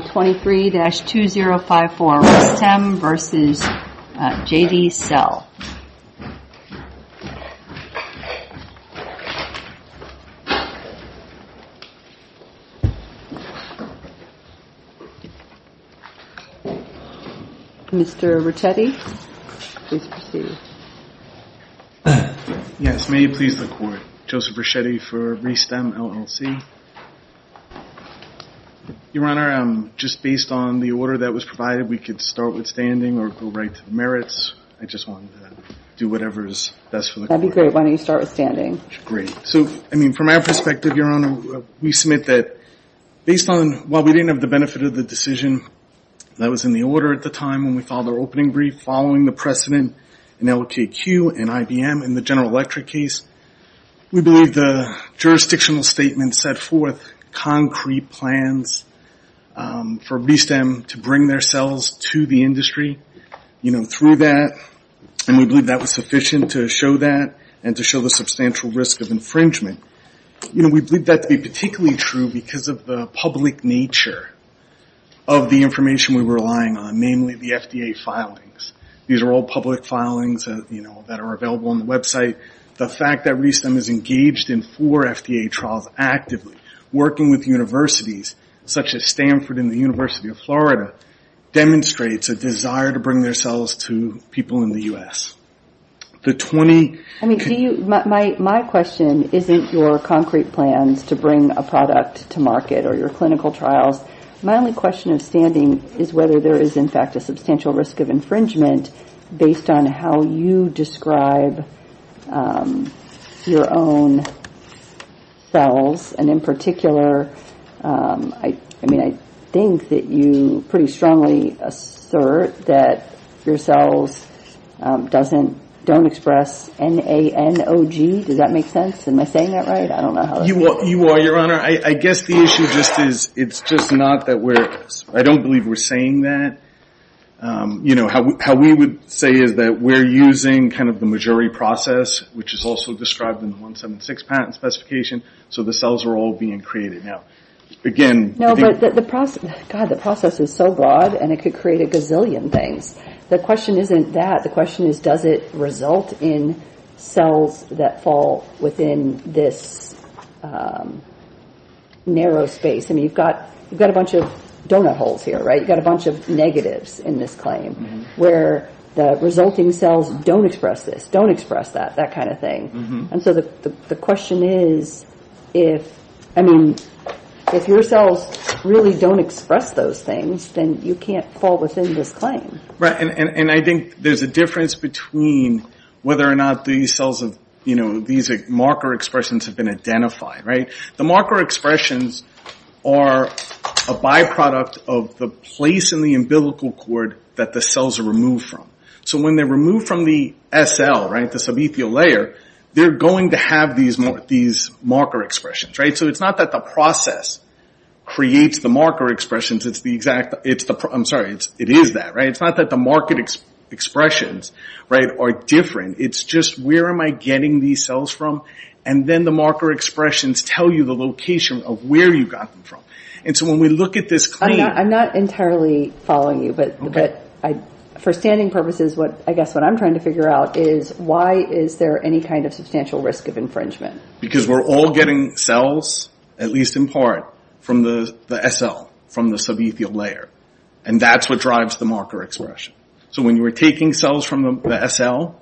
23-2054 RESTEM v. Jadi Cell Mr. Ricchetti, please proceed. Yes, may you please the court. Joseph Ricchetti for RESTEM, LLC. Your Honor, just based on the order that was provided, we could start with standing or go right to merits. I just wanted to do whatever is best for the court. That would be great. Why don't you start with standing. Great. So I mean from our perspective, Your Honor, we submit that based on while we didn't have the benefit of the decision that was in the order at the time when we filed our opening brief following the precedent in LTAQ and IBM in the General Electric case, we believe the jurisdictional statement set forth concrete plans for RESTEM to bring their cells to the industry, you know, through that. And we believe that was sufficient to show that and to show the substantial risk of infringement. You know, we believe that to be particularly true because of the public nature of the information we were relying on, namely the FDA filings. These are all public filings, you know, that are available on the website. The fact that RESTEM is engaged in four FDA trials actively, working with universities such as Stanford and the University of Florida, demonstrates a desire to bring their cells to people in the U.S. I mean, do you, my question isn't your concrete plans to bring a product to market or your clinical trials. My only question of standing is whether there is in fact a substantial risk of infringement based on how you describe your own cells. And in particular, I mean, I think that you pretty strongly assert that your cells doesn't, don't express N-A-N-O-G. Does that make sense? Am I saying that right? I don't know. You are, Your Honor. I guess the issue just is, it's just not that we're, I don't believe we're saying that. You know, how we would say is that we're using kind of the majority process, which is also described in the 176 patent specification, so the cells are all being created. Now, again. No, but the process is so broad and it could create a gazillion things. The question isn't that. The question is, does it result in cells that fall within this narrow space? I mean, you've got a bunch of donut holes here, right? You've got a bunch of negatives in this claim where the resulting cells don't express this, don't express that, that kind of thing. And so the question is, if, I mean, if your cells really don't express those things, then you can't fall within this claim. Right. And I think there's a difference between whether or not these cells of, you know, these marker expressions have been identified, right? The marker expressions are a byproduct of the place in the umbilical cord that the cells are removed from. So when they're removed from the SL, right, the subethial layer, they're going to have these marker expressions, right? So it's not that the process creates the marker expressions. It's the exact, it's the, I'm sorry, it is that, right? It's not that the marker expressions, right, are different. It's just where am I getting these cells from? And then the marker expressions tell you the location of where you got them from. And so when we look at this claim. I'm not entirely following you, but for standing purposes, what I guess what I'm trying to figure out is why is there any kind of substantial risk of infringement? Because we're all getting cells, at least in part, from the SL, from the subethial layer. And that's what drives the marker expression. So when you were taking cells from the SL,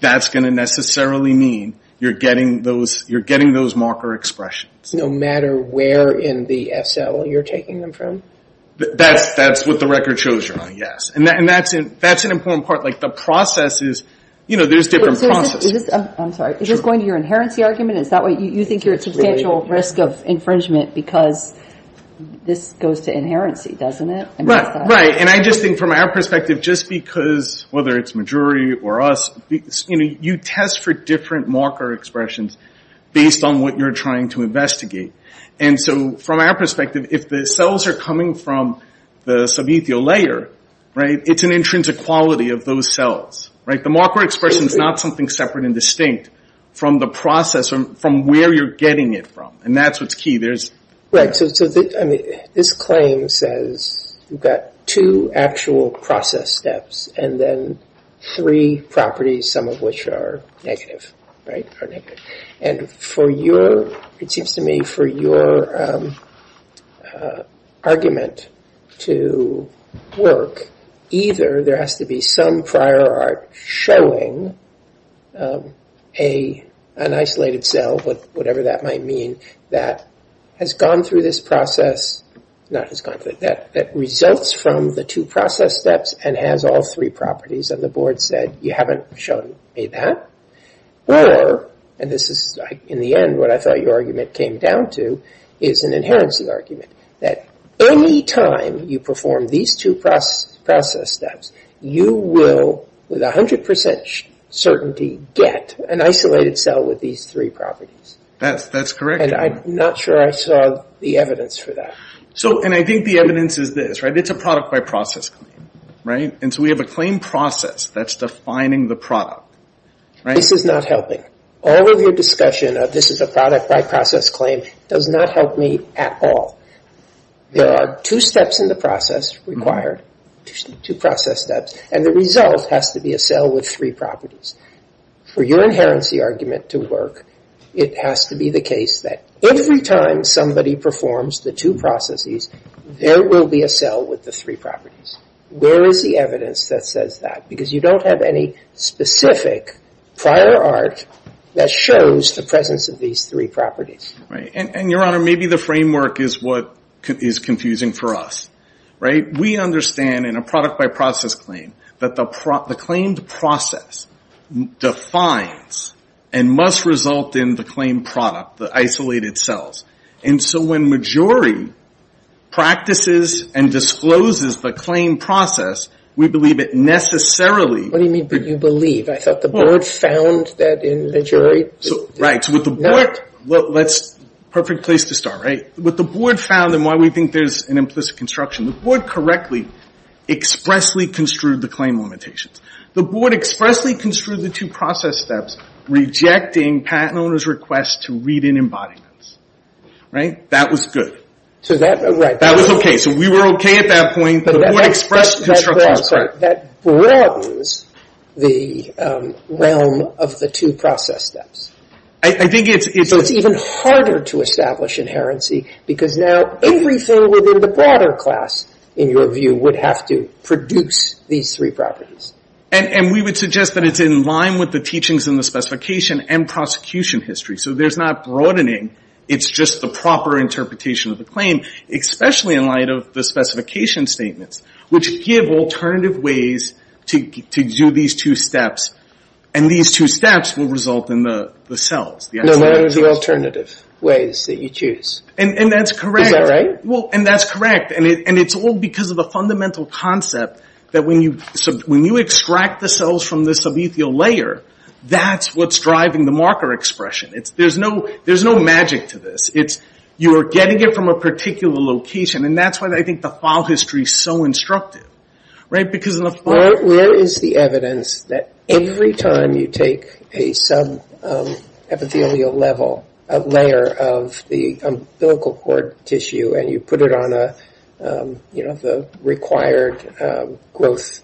that's going to necessarily mean you're getting those, you're getting those marker expressions. No matter where in the SL you're taking them from? That's what the record shows you're on, yes. And that's an important part. Like the process is, you know, there's different processes. I'm sorry. Is this going to your inherency argument? Is that why you think you're at substantial risk of infringement because this goes to inherency, doesn't it? Right, right. And I just think from our perspective, just because, whether it's a jury or us, you know, you test for different marker expressions based on what you're trying to investigate. And so from our perspective, if the cells are coming from the subethial layer, right, it's an intrinsic quality of those cells, right? The marker expression is not something separate and distinct from the process, from where you're getting it from. And that's what's key. Right. So this claim says you've got two actual process steps and then three properties, some of which are negative, right? And for your, it seems to me, for your argument to work, either there has to be some prior art showing an isolated cell, whatever that might mean, that has gone through this process, not has gone through, that results from the two process steps and has all three properties. And the board said, you haven't shown me that. Or, and this is in the end what I thought your argument came down to, is an inherency argument, that any time you perform these two process steps, you will, with 100% certainty, get an isolated cell with these three properties. That's correct. And I'm not sure I saw the evidence for that. So, and I think the evidence is this, right? It's a product by process claim, right? And so we have a claim process that's defining the product, right? This is not helping. All of your discussion of this is a product by process claim does not help me at all. There are two steps in the process required, two process steps, and the result has to be a cell with three properties. For your inherency argument to work, it has to be the case that every time somebody performs the two processes, there will be a cell with the three properties. Where is the evidence that says that? Because you don't have any specific prior art that shows the presence of these three properties. Right. And, and your honor, maybe the framework is what is confusing for us, right? We understand in a product by process claim that the, the claimed process defines and must result in the claim product, the isolated cells. And so when majority practices and discloses the claim process, we believe it necessarily. What do you mean, but you believe? I thought the board found that in majority. So, right. So with the board, let's, perfect place to start, right? With the board found and why we think there's an implicit construction, the board correctly, expressly construed the claim limitations. The board expressly construed the two process steps, rejecting patent owner's request to read in embodiments, right? That was good. So that, right. That was okay. So we were okay at that point. But that express construct was correct. That broadens the realm of the two process steps. I, I think it's, it's. It's even harder to establish inherency because now everything within the broader class, in your view, would have to produce these three properties. And, and we would suggest that it's in line with the teachings in the specification and prosecution history. So there's not broadening. It's just the proper interpretation of the claim, especially in light of the specification statements, which give alternative ways to, to do these two steps. And these two steps will result in the, the cells. No, that is the alternative ways that you choose. And, and that's correct. Is that right? Well, and that's correct. And it, and it's all because of a fundamental concept that when you sub, when you extract the cells from the subethial layer, that's what's driving the marker expression. It's, there's no, there's no magic to this. It's, you're getting it from a particular location. And that's why I think the file history is so instructive, right? Because in the file. Where, where is the evidence that every time you take a sub epithelial level, a layer of the umbilical cord tissue and you put it on a, you know, the required growth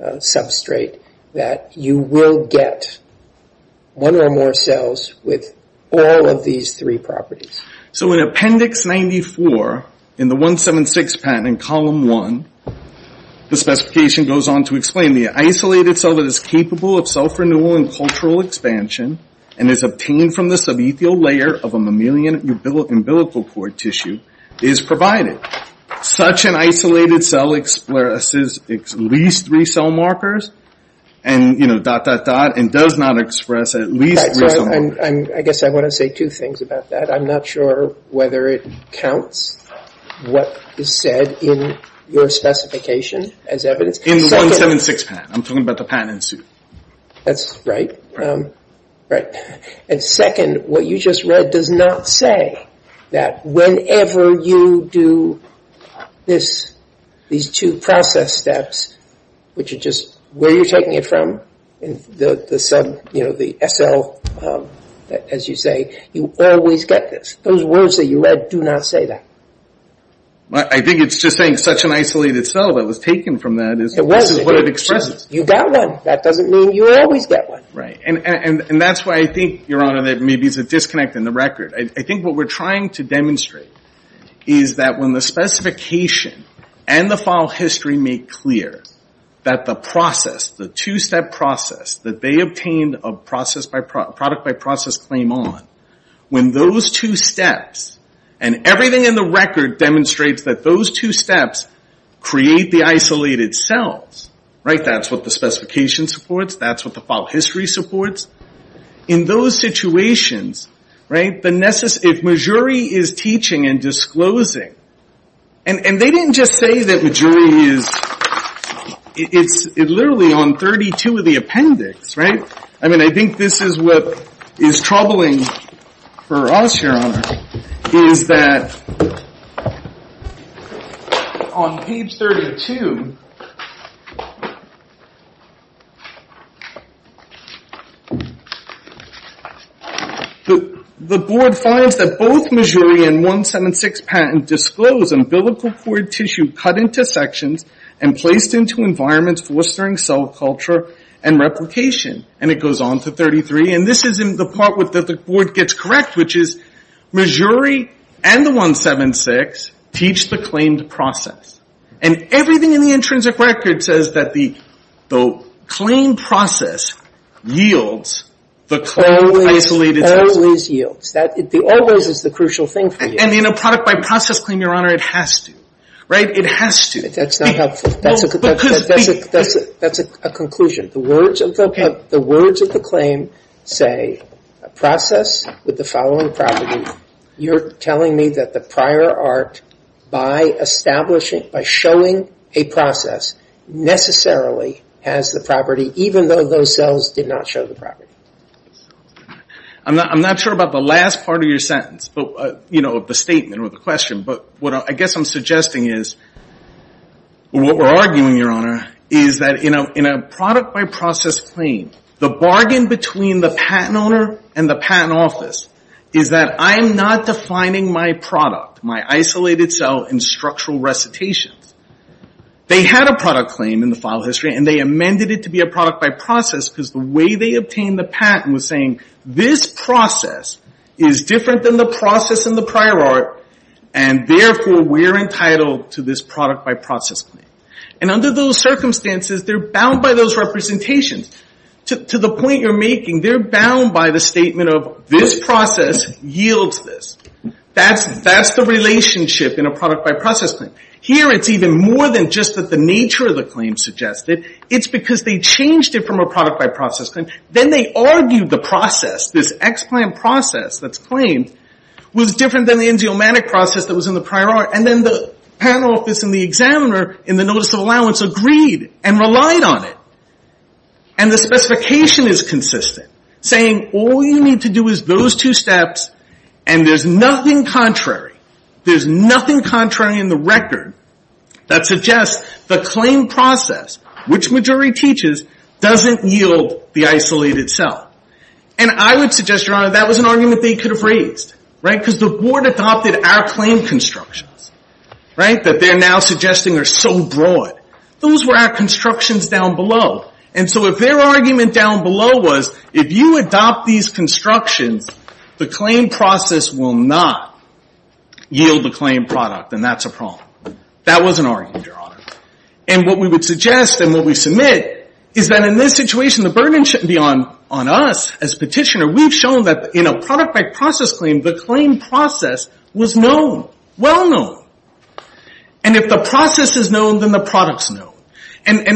substrate, that you will get one or more cells with all of these three properties? So in appendix 94, in the 176 patent in column one, the specification goes on to explain the isolated cell that is capable of self renewal and cultural expansion and is obtained from the subethial layer of a mammalian umbilical cord tissue is provided. Such an isolated cell expresses at least three cell markers. And, you know, dot, dot, dot, and does not express at least three cell markers. I'm, I guess I want to say two things about that. I'm not sure whether it counts what is said in your specification as evidence. In the 176 patent. I'm talking about the patent in suit. That's right. And second, what you just read does not say that whenever you do this, these two process steps, which are just, where you're taking it from, the sub, you know, the SL, as you say, you always get this. Those words that you read do not say that. I think it's just saying such an isolated cell that was taken from that is what it expresses. You got one. That doesn't mean you always get one. Right, and that's why I think, Your Honor, that maybe there's a disconnect in the record. I think what we're trying to demonstrate is that when the specification and the file history make clear that the process, the two step process, that they obtained a product by process claim on, when those two steps, and everything in the record demonstrates that those two steps create the isolated cells. Right, that's what the specification supports. That's what the file history supports. In those situations, right, if Mejuri is teaching and disclosing, and they didn't just say that Mejuri is, it's literally on 32 of the appendix, right? I mean, I think this is what is troubling for us, Your Honor, is that on page 32, the board finds that both Mejuri and 176 patent disclose umbilical cord tissue cut into sections and placed into environments fostering cell culture and replication. And it goes on to 33, and this is the part that the board gets correct, which is Mejuri and the 176 teach the claimed process. And everything in the intrinsic record says that the claim process yields the claim of isolated cells. Always yields. That always is the crucial thing for you. And in a product by process claim, Your Honor, it has to, right? It has to. That's not helpful. That's a conclusion. The words of the claim say process with the following property. You're telling me that the prior art, by establishing, by showing a process, necessarily has the property, even though those cells did not show the property. I'm not sure about the last part of your sentence, of the statement or the question. But what I guess I'm suggesting is, what we're arguing, Your Honor, is that in a product by process claim, the bargain between the patent owner and the patent office is that I'm not defining my product, my isolated cell in structural recitations. They had a product claim in the file history, and they amended it to be a product by process because the way they obtained the patent was saying, this process is different than the process in the prior art, and therefore we're entitled to this product by process claim. And under those circumstances, they're bound by those representations. To the point you're making, they're bound by the statement of, this process yields this. That's the relationship in a product by process claim. Here it's even more than just that the nature of the claim suggested. It's because they changed it from a product by process claim. Then they argued the process, this ex-plant process that's claimed, was different than the enzymatic process that was in the prior art. And then the patent office and the examiner, in the notice of allowance, agreed and relied on it. And the specification is consistent, saying all you need to do is those two steps, and there's nothing contrary. There's nothing contrary in the record that suggests the claim process, which majority teaches, doesn't yield the isolated cell. And I would suggest, Your Honor, that was an argument they could have raised, right? Because the board adopted our claim constructions, right? That they're now suggesting are so broad. Those were our constructions down below. And so if their argument down below was, if you adopt these constructions, the claim process will not yield the claim product. And that's a problem. That was an argument, Your Honor. And what we would suggest, and what we submit, is that in this situation, the burden shouldn't be on us as petitioner. We've shown that in a product by process claim, the claim process was known, well known. And if the process is known, then the product's known. And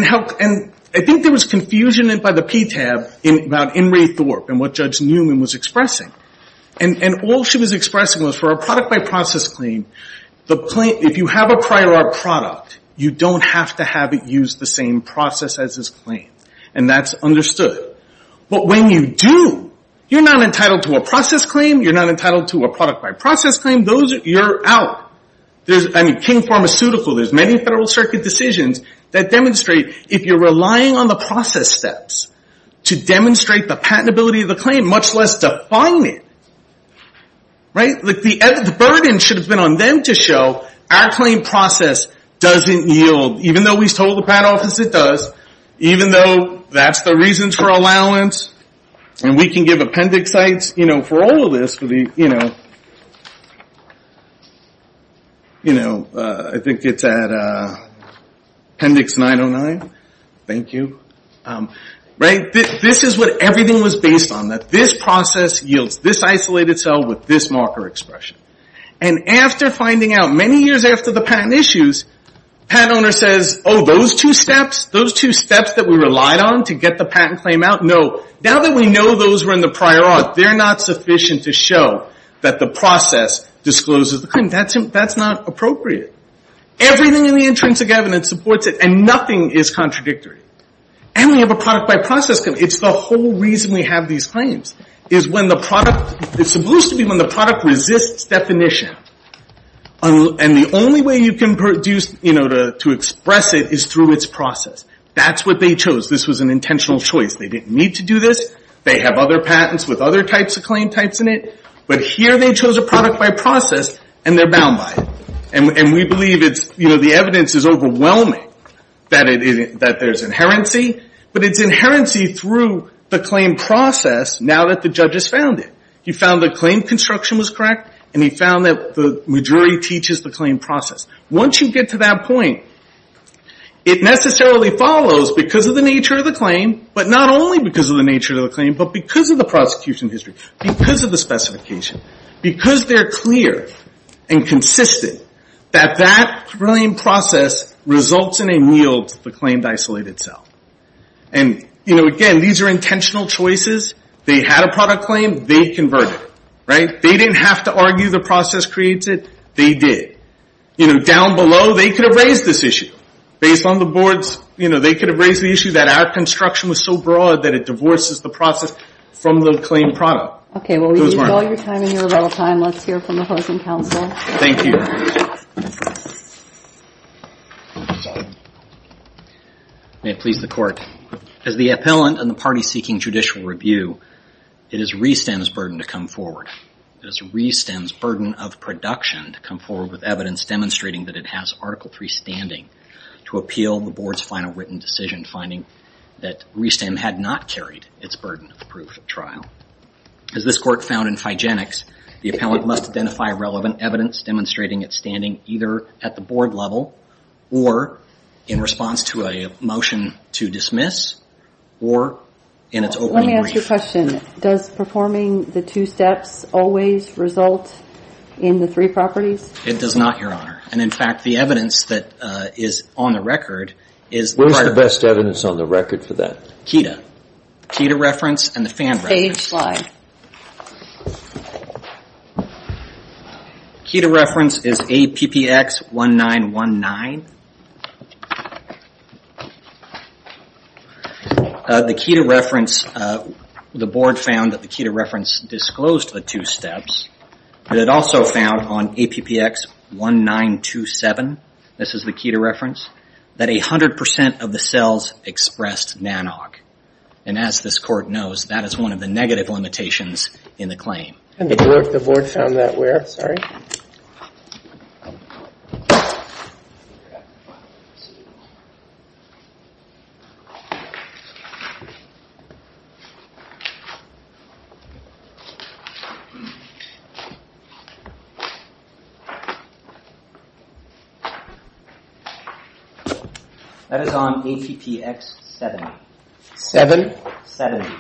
I think there was confusion by the PTAB about In re Thorp, and what Judge Newman was expressing. And all she was expressing was, for a product by process claim, if you have a prior art product, you don't have to have it use the same process as this claim. And that's understood. But when you do, you're not entitled to a process claim. You're not entitled to a product by process claim. Those, you're out. I mean, King Pharmaceutical, there's many federal circuit decisions that demonstrate, if you're relying on the process steps to demonstrate the patentability of the claim, much less define it, the burden should have been on them to show, our claim process doesn't yield. Even though we've told the patent office it does, even though that's the reasons for allowance, and we can give appendix sites for all of this. I think it's at appendix 909. Thank you. This is what everything was based on, that this process yields this isolated cell with this marker expression. And after finding out, many years after the patent issues, patent owner says, oh, those two steps, those two steps that we relied on to get the patent claim out? Now that we know those were in the prior art, they're not sufficient to show that the process discloses the claim. That's not appropriate. Everything in the intrinsic evidence supports it, and nothing is contradictory. And we have a product by process claim. It's the whole reason we have these claims, is when the product, it's supposed to be when the product resists definition. And the only way you can produce to express it is through its process. That's what they chose. This was an intentional choice. They didn't need to do this. They have other patents with other types of claim types in it. But here, they chose a product by process, and they're bound by it. And we believe it's, you know, the evidence is overwhelming that there's inherency. But it's inherency through the claim process, now that the judge has found it. He found the claim construction was correct, and he found that the jury teaches the claim process. Once you get to that point, it necessarily follows because of the nature of the claim, but not only because of the nature of the claim, but because of the prosecution history, because of the specification, because they're clear and consistent that that claim process results in a meal to the claimed isolated cell. And, you know, again, these are intentional choices. They had a product claim. They converted it, right? They didn't have to argue the process creates it. They did. You know, down below, they could have raised this issue. Based on the boards, you know, they could have raised the issue that our construction was so broad that it divorces the process from the claimed product. OK, well, we've used all your time, and you're out of time. Let's hear from the host and counsel. Thank you. May it please the court. As the appellant and the party seeking judicial review, it is re-STEM's burden to come forward. It is re-STEM's burden of production to come forward with evidence demonstrating that it has Article III standing to appeal the board's final written decision, finding that re-STEM had not carried its burden of proof at trial. As this court found in Figenics, the appellant must identify relevant evidence demonstrating its standing either at the board level or in response to a motion to dismiss or in its opening brief. Let me ask you a question. Does performing the two steps always result in the three properties? It does not, Your Honor. And in fact, the evidence that is on the record is the part of the board. Where's the best evidence on the record for that? KEDA reference and the FAN reference. Page slide. KEDA reference is APPX1919. The KEDA reference, the board found that the KEDA reference disclosed the two steps. But it also found on APPX1927, this is the KEDA reference, that 100% of the cells expressed NANOG. And as this court knows, that is one of the negative limitations in the claim. And the board found that where? Sorry. That is on APPX70. Seven? Seventy.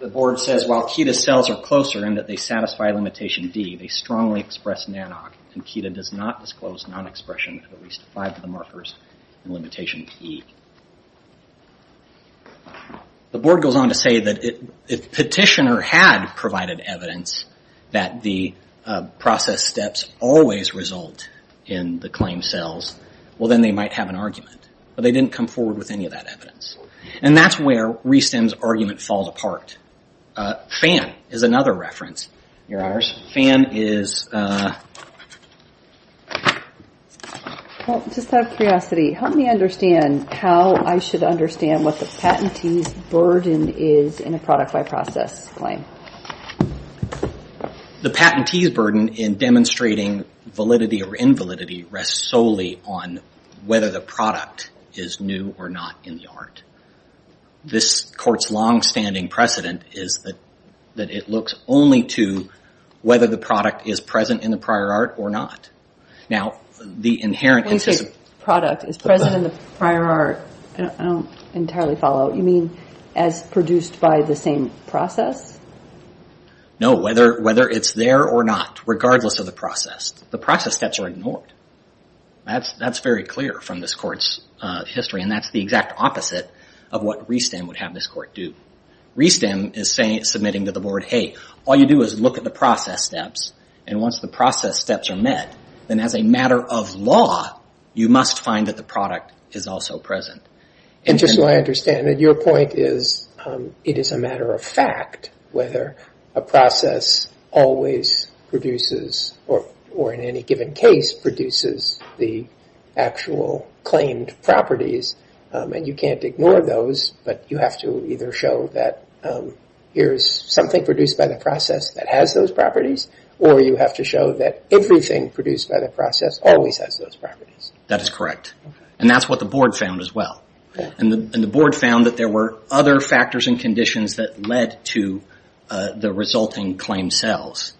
The board says, while KEDA cells are closer and that they satisfy limitation D, they strongly express NANOG. And KEDA does not disclose non-expression at least five of the markers in limitation E. The board goes on to say that if petitioner had provided evidence that the process steps always result in the claim cells, well, then they might have an argument. But they didn't come forward with any of that evidence. And that's where ReSTEM's argument falls apart. FAN is another reference, Your Honors. FAN is, well, just out of curiosity, help me understand how I should understand what the patentee's burden is in a product by process claim. The patentee's burden in demonstrating validity or invalidity rests solely on whether the product is new or not in the art. This court's longstanding precedent is that it looks only to whether the product is present in the prior art or not. Now, the inherent interest of the product is present in the prior art. I don't entirely follow. You mean as produced by the same process? No, whether it's there or not, regardless of the process. The process steps are ignored. That's very clear from this court's history. And that's the exact opposite of what ReSTEM would have this court do. ReSTEM is submitting to the board, hey, all you do is look at the process steps. And once the process steps are met, then as a matter of law, you must find that the product is also present. And just so I understand, your point is it is a matter of fact whether a process always produces, or in any given case, produces the actual claimed properties. And you can't ignore those. But you have to either show that here's something produced by the process that has those properties, or you have to show that everything produced by the process always has those properties. That is correct. And that's what the board found as well. And the board found that there were other factors and conditions that led to the resulting claimed sales.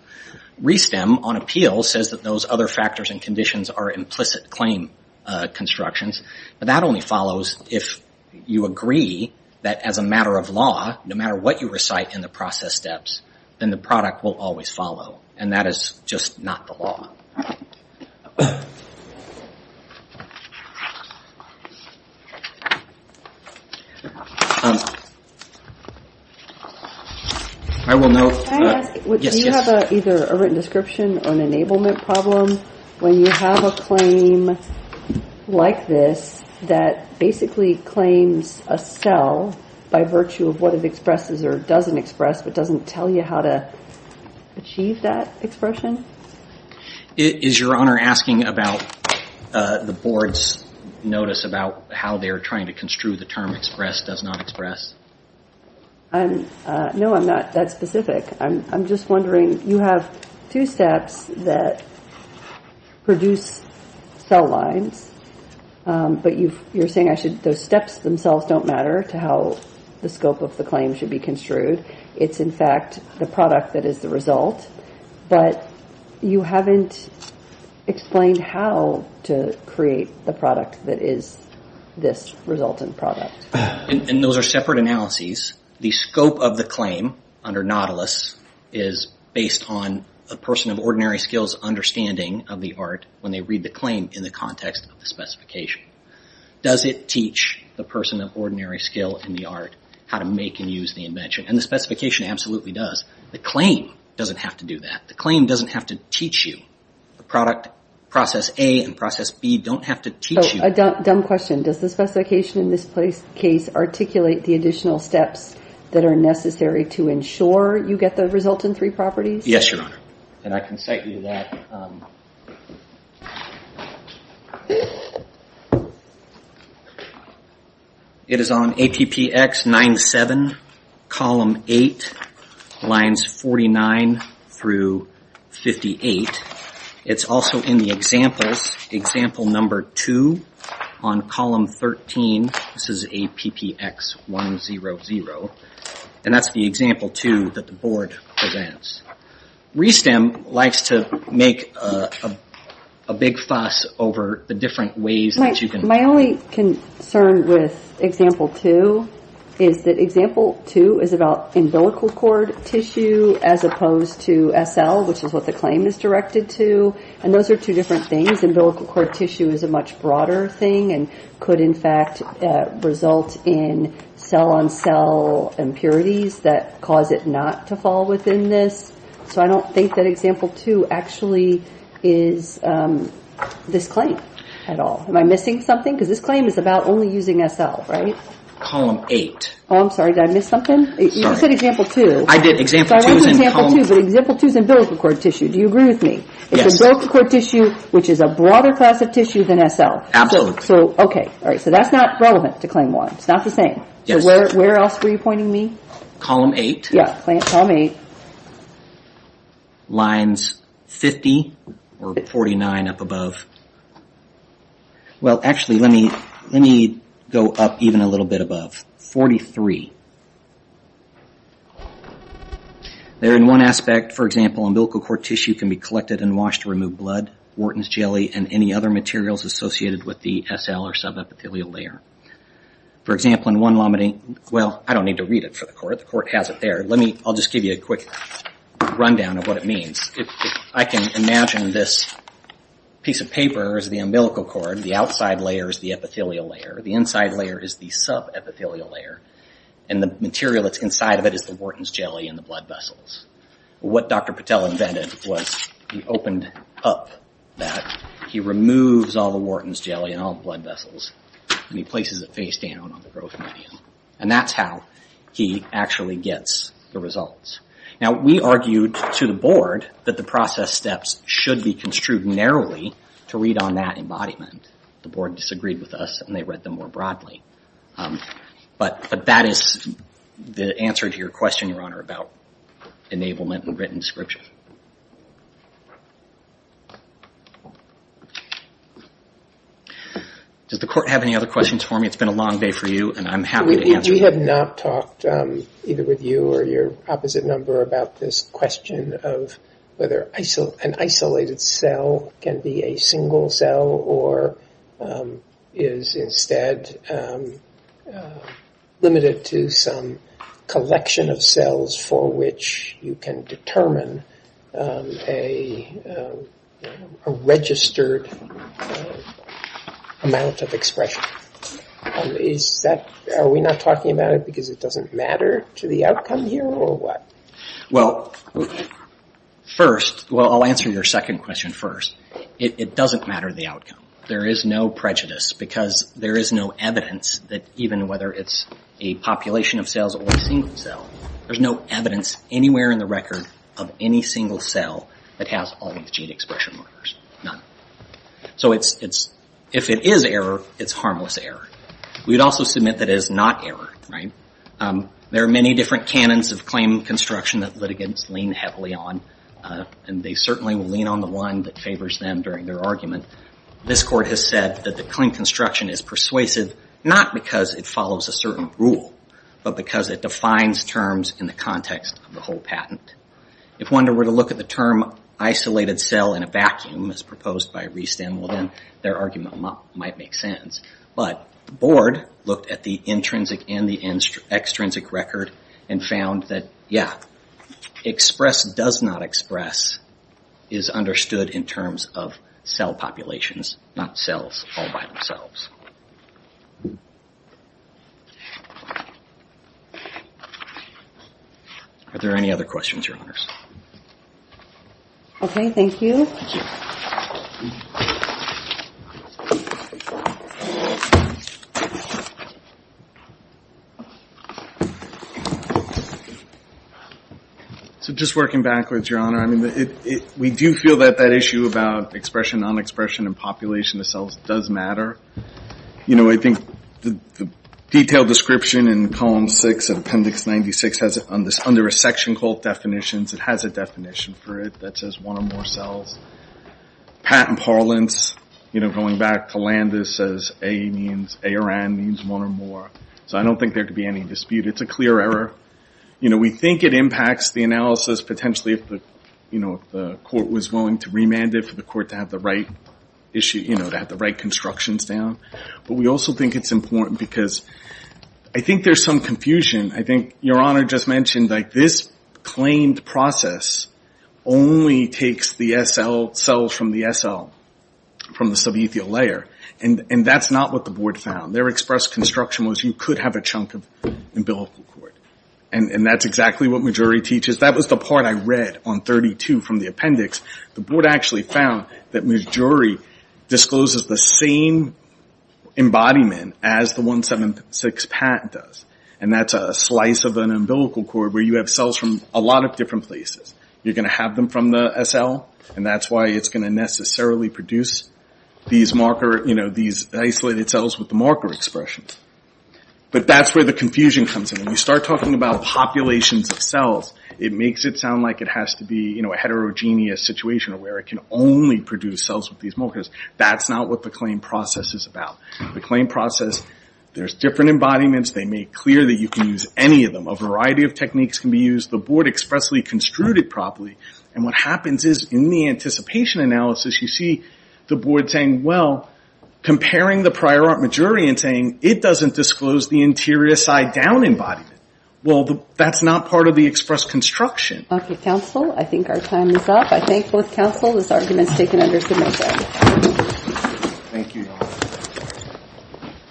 ReSTEM, on appeal, says that those other factors and conditions are implicit claim constructions. But that only follows if you agree that as a matter of law, no matter what you recite in the process steps, then the product will always follow. And that is just not the law. I will note that, yes, yes. Can I ask, do you have either a written description or an enablement problem when you have a claim like this that basically claims a cell by virtue of what it expresses or doesn't express, but doesn't tell you how to achieve that expression? Is your honor asking about the board's notice about how they are trying to construe the term express does not express? No, I'm not that specific. I'm just wondering, you have two steps that produce cell lines. But you're saying those steps themselves don't matter to how the scope of the claim should be construed. It's, in fact, the product that is the result. But you haven't explained how to create the product that is this resultant product. And those are separate analyses. The scope of the claim under Nautilus is based on a person of ordinary skills understanding of the art when they read the claim in the context of the specification. Does it teach the person of ordinary skill in the art how to make and use the invention? And the specification absolutely does. The claim doesn't have to do that. The claim doesn't have to teach you. The process A and process B don't have to teach you. A dumb question. Does the specification in this case articulate the additional steps that are necessary to ensure you get the resultant three properties? Yes, your honor. And I can cite you that. It is on APPX 97, column 8, lines 49 through 58. It's also in the examples, example number 2 on column 13. This is APPX 100. And that's the example 2 that the board presents. RE-STEM likes to make a big fuss over the different ways that you can. My only concern with example 2 is that example 2 is about umbilical cord tissue as opposed to SL, which is what the claim is directed to. And those are two different things. Umbilical cord tissue is a much broader thing and could, in fact, result in cell-on-cell impurities that cause it not to fall within this. So I don't think that example 2 actually is this claim at all. Am I missing something? Because this claim is about only using SL, right? Column 8. Oh, I'm sorry. Did I miss something? You just said example 2. I did. Example 2 is in column. So I went to example 2, but example 2 is umbilical cord tissue. Do you agree with me? Yes. It's umbilical cord tissue, which is a broader class of tissue than SL. Absolutely. So, OK. All right, so that's not relevant to claim 1. It's not the same. Where else were you pointing me? Column 8. Yeah, column 8. Lines 50 or 49 up above. Well, actually, let me go up even a little bit above. 43. There in one aspect, for example, umbilical cord tissue can be collected and washed to remove blood, Wharton's jelly, and any other materials associated with the SL or subepithelial layer. For example, in one laminate, well, I don't need to read it for the court. The court has it there. I'll just give you a quick rundown of what it means. I can imagine this piece of paper is the umbilical cord. The outside layer is the epithelial layer. The inside layer is the subepithelial layer. And the material that's inside of it is the Wharton's jelly and the blood vessels. What Dr. Patel invented was he opened up that. He removes all the Wharton's jelly and all the blood vessels, and he places it face down on the growth medium. And that's how he actually gets the results. Now, we argued to the board that the process steps should be construed narrowly to read on that embodiment. The board disagreed with us, and they read them more broadly. But that is the answer to your question, Your Honor, about enablement and written description. Does the court have any other questions for me? It's been a long day for you, and I'm happy to answer them. We have not talked, either with you or your opposite number, about this question of whether an isolated cell can be a single cell, or is instead limited to some collection of cells for which you can determine a registered amount of expression? Are we not talking about it because it doesn't matter to the outcome here, or what? Well, first, well, I'll answer your second question first. It doesn't matter the outcome. There is no prejudice, because there is no evidence that even whether it's a population of cells or a single cell, there's no evidence anywhere in the record of any single cell that has all of the gene expression markers, none. So if it is error, it's harmless error. We would also submit that it is not error. There are many different canons of claim construction that litigants lean heavily on, and they certainly will lean on the one that favors them during their argument. This court has said that the claim construction is persuasive, not because it follows a certain rule, but because it defines terms in the context of the whole patent. If one were to look at the term isolated cell in a vacuum, as proposed by Riestan, well then, their argument might make sense. But the board looked at the intrinsic and the extrinsic record and found that, yeah, express does not express is understood in terms of cell populations, not cells all by themselves. Are there any other questions, Your Honors? OK, thank you. So just working backwards, Your Honor, we do feel that that issue about expression, nonexpression, and population of cells does matter. I think the detailed description in column 6 of appendix 96 under a section called definitions, it has a definition for it that says one or more cells. Patent parlance, going back to Landis, says A or N means one or more. So I don't think there could be any dispute. It's a clear error. We think it impacts the analysis potentially if the court was willing to remand it for the court to have the right constructions down. But we also think it's important because I think there's some confusion. I think Your Honor just mentioned this claimed process only takes the cells from the SL, from the subethial layer. And that's not what the board found. Their express construction was you could have a chunk of umbilical cord. And that's exactly what Majorey teaches. That was the part I read on 32 from the appendix. The board actually found that Majorey discloses the same embodiment as the 176 PAT does. And that's a slice of an umbilical cord where you have cells from a lot of different places. You're going to have them from the SL. And that's why it's going to necessarily produce these isolated cells with the marker expression. But that's where the confusion comes in. When you start talking about populations of cells, it makes it sound like it has to be a heterogeneous situation where it can only produce cells with these markers. That's not what the claim process is about. The claim process, there's different embodiments. They make clear that you can use any of them. A variety of techniques can be used. The board expressly construed it properly. And what happens is in the anticipation analysis, you see the board saying, well, comparing the prior art Majorey and saying, it doesn't disclose the interior side down embodiment. Well, that's not part of the express construction. OK, counsel. I think our time is up. I thank both counsel. This argument is taken under submission. Thank you, Your Honor.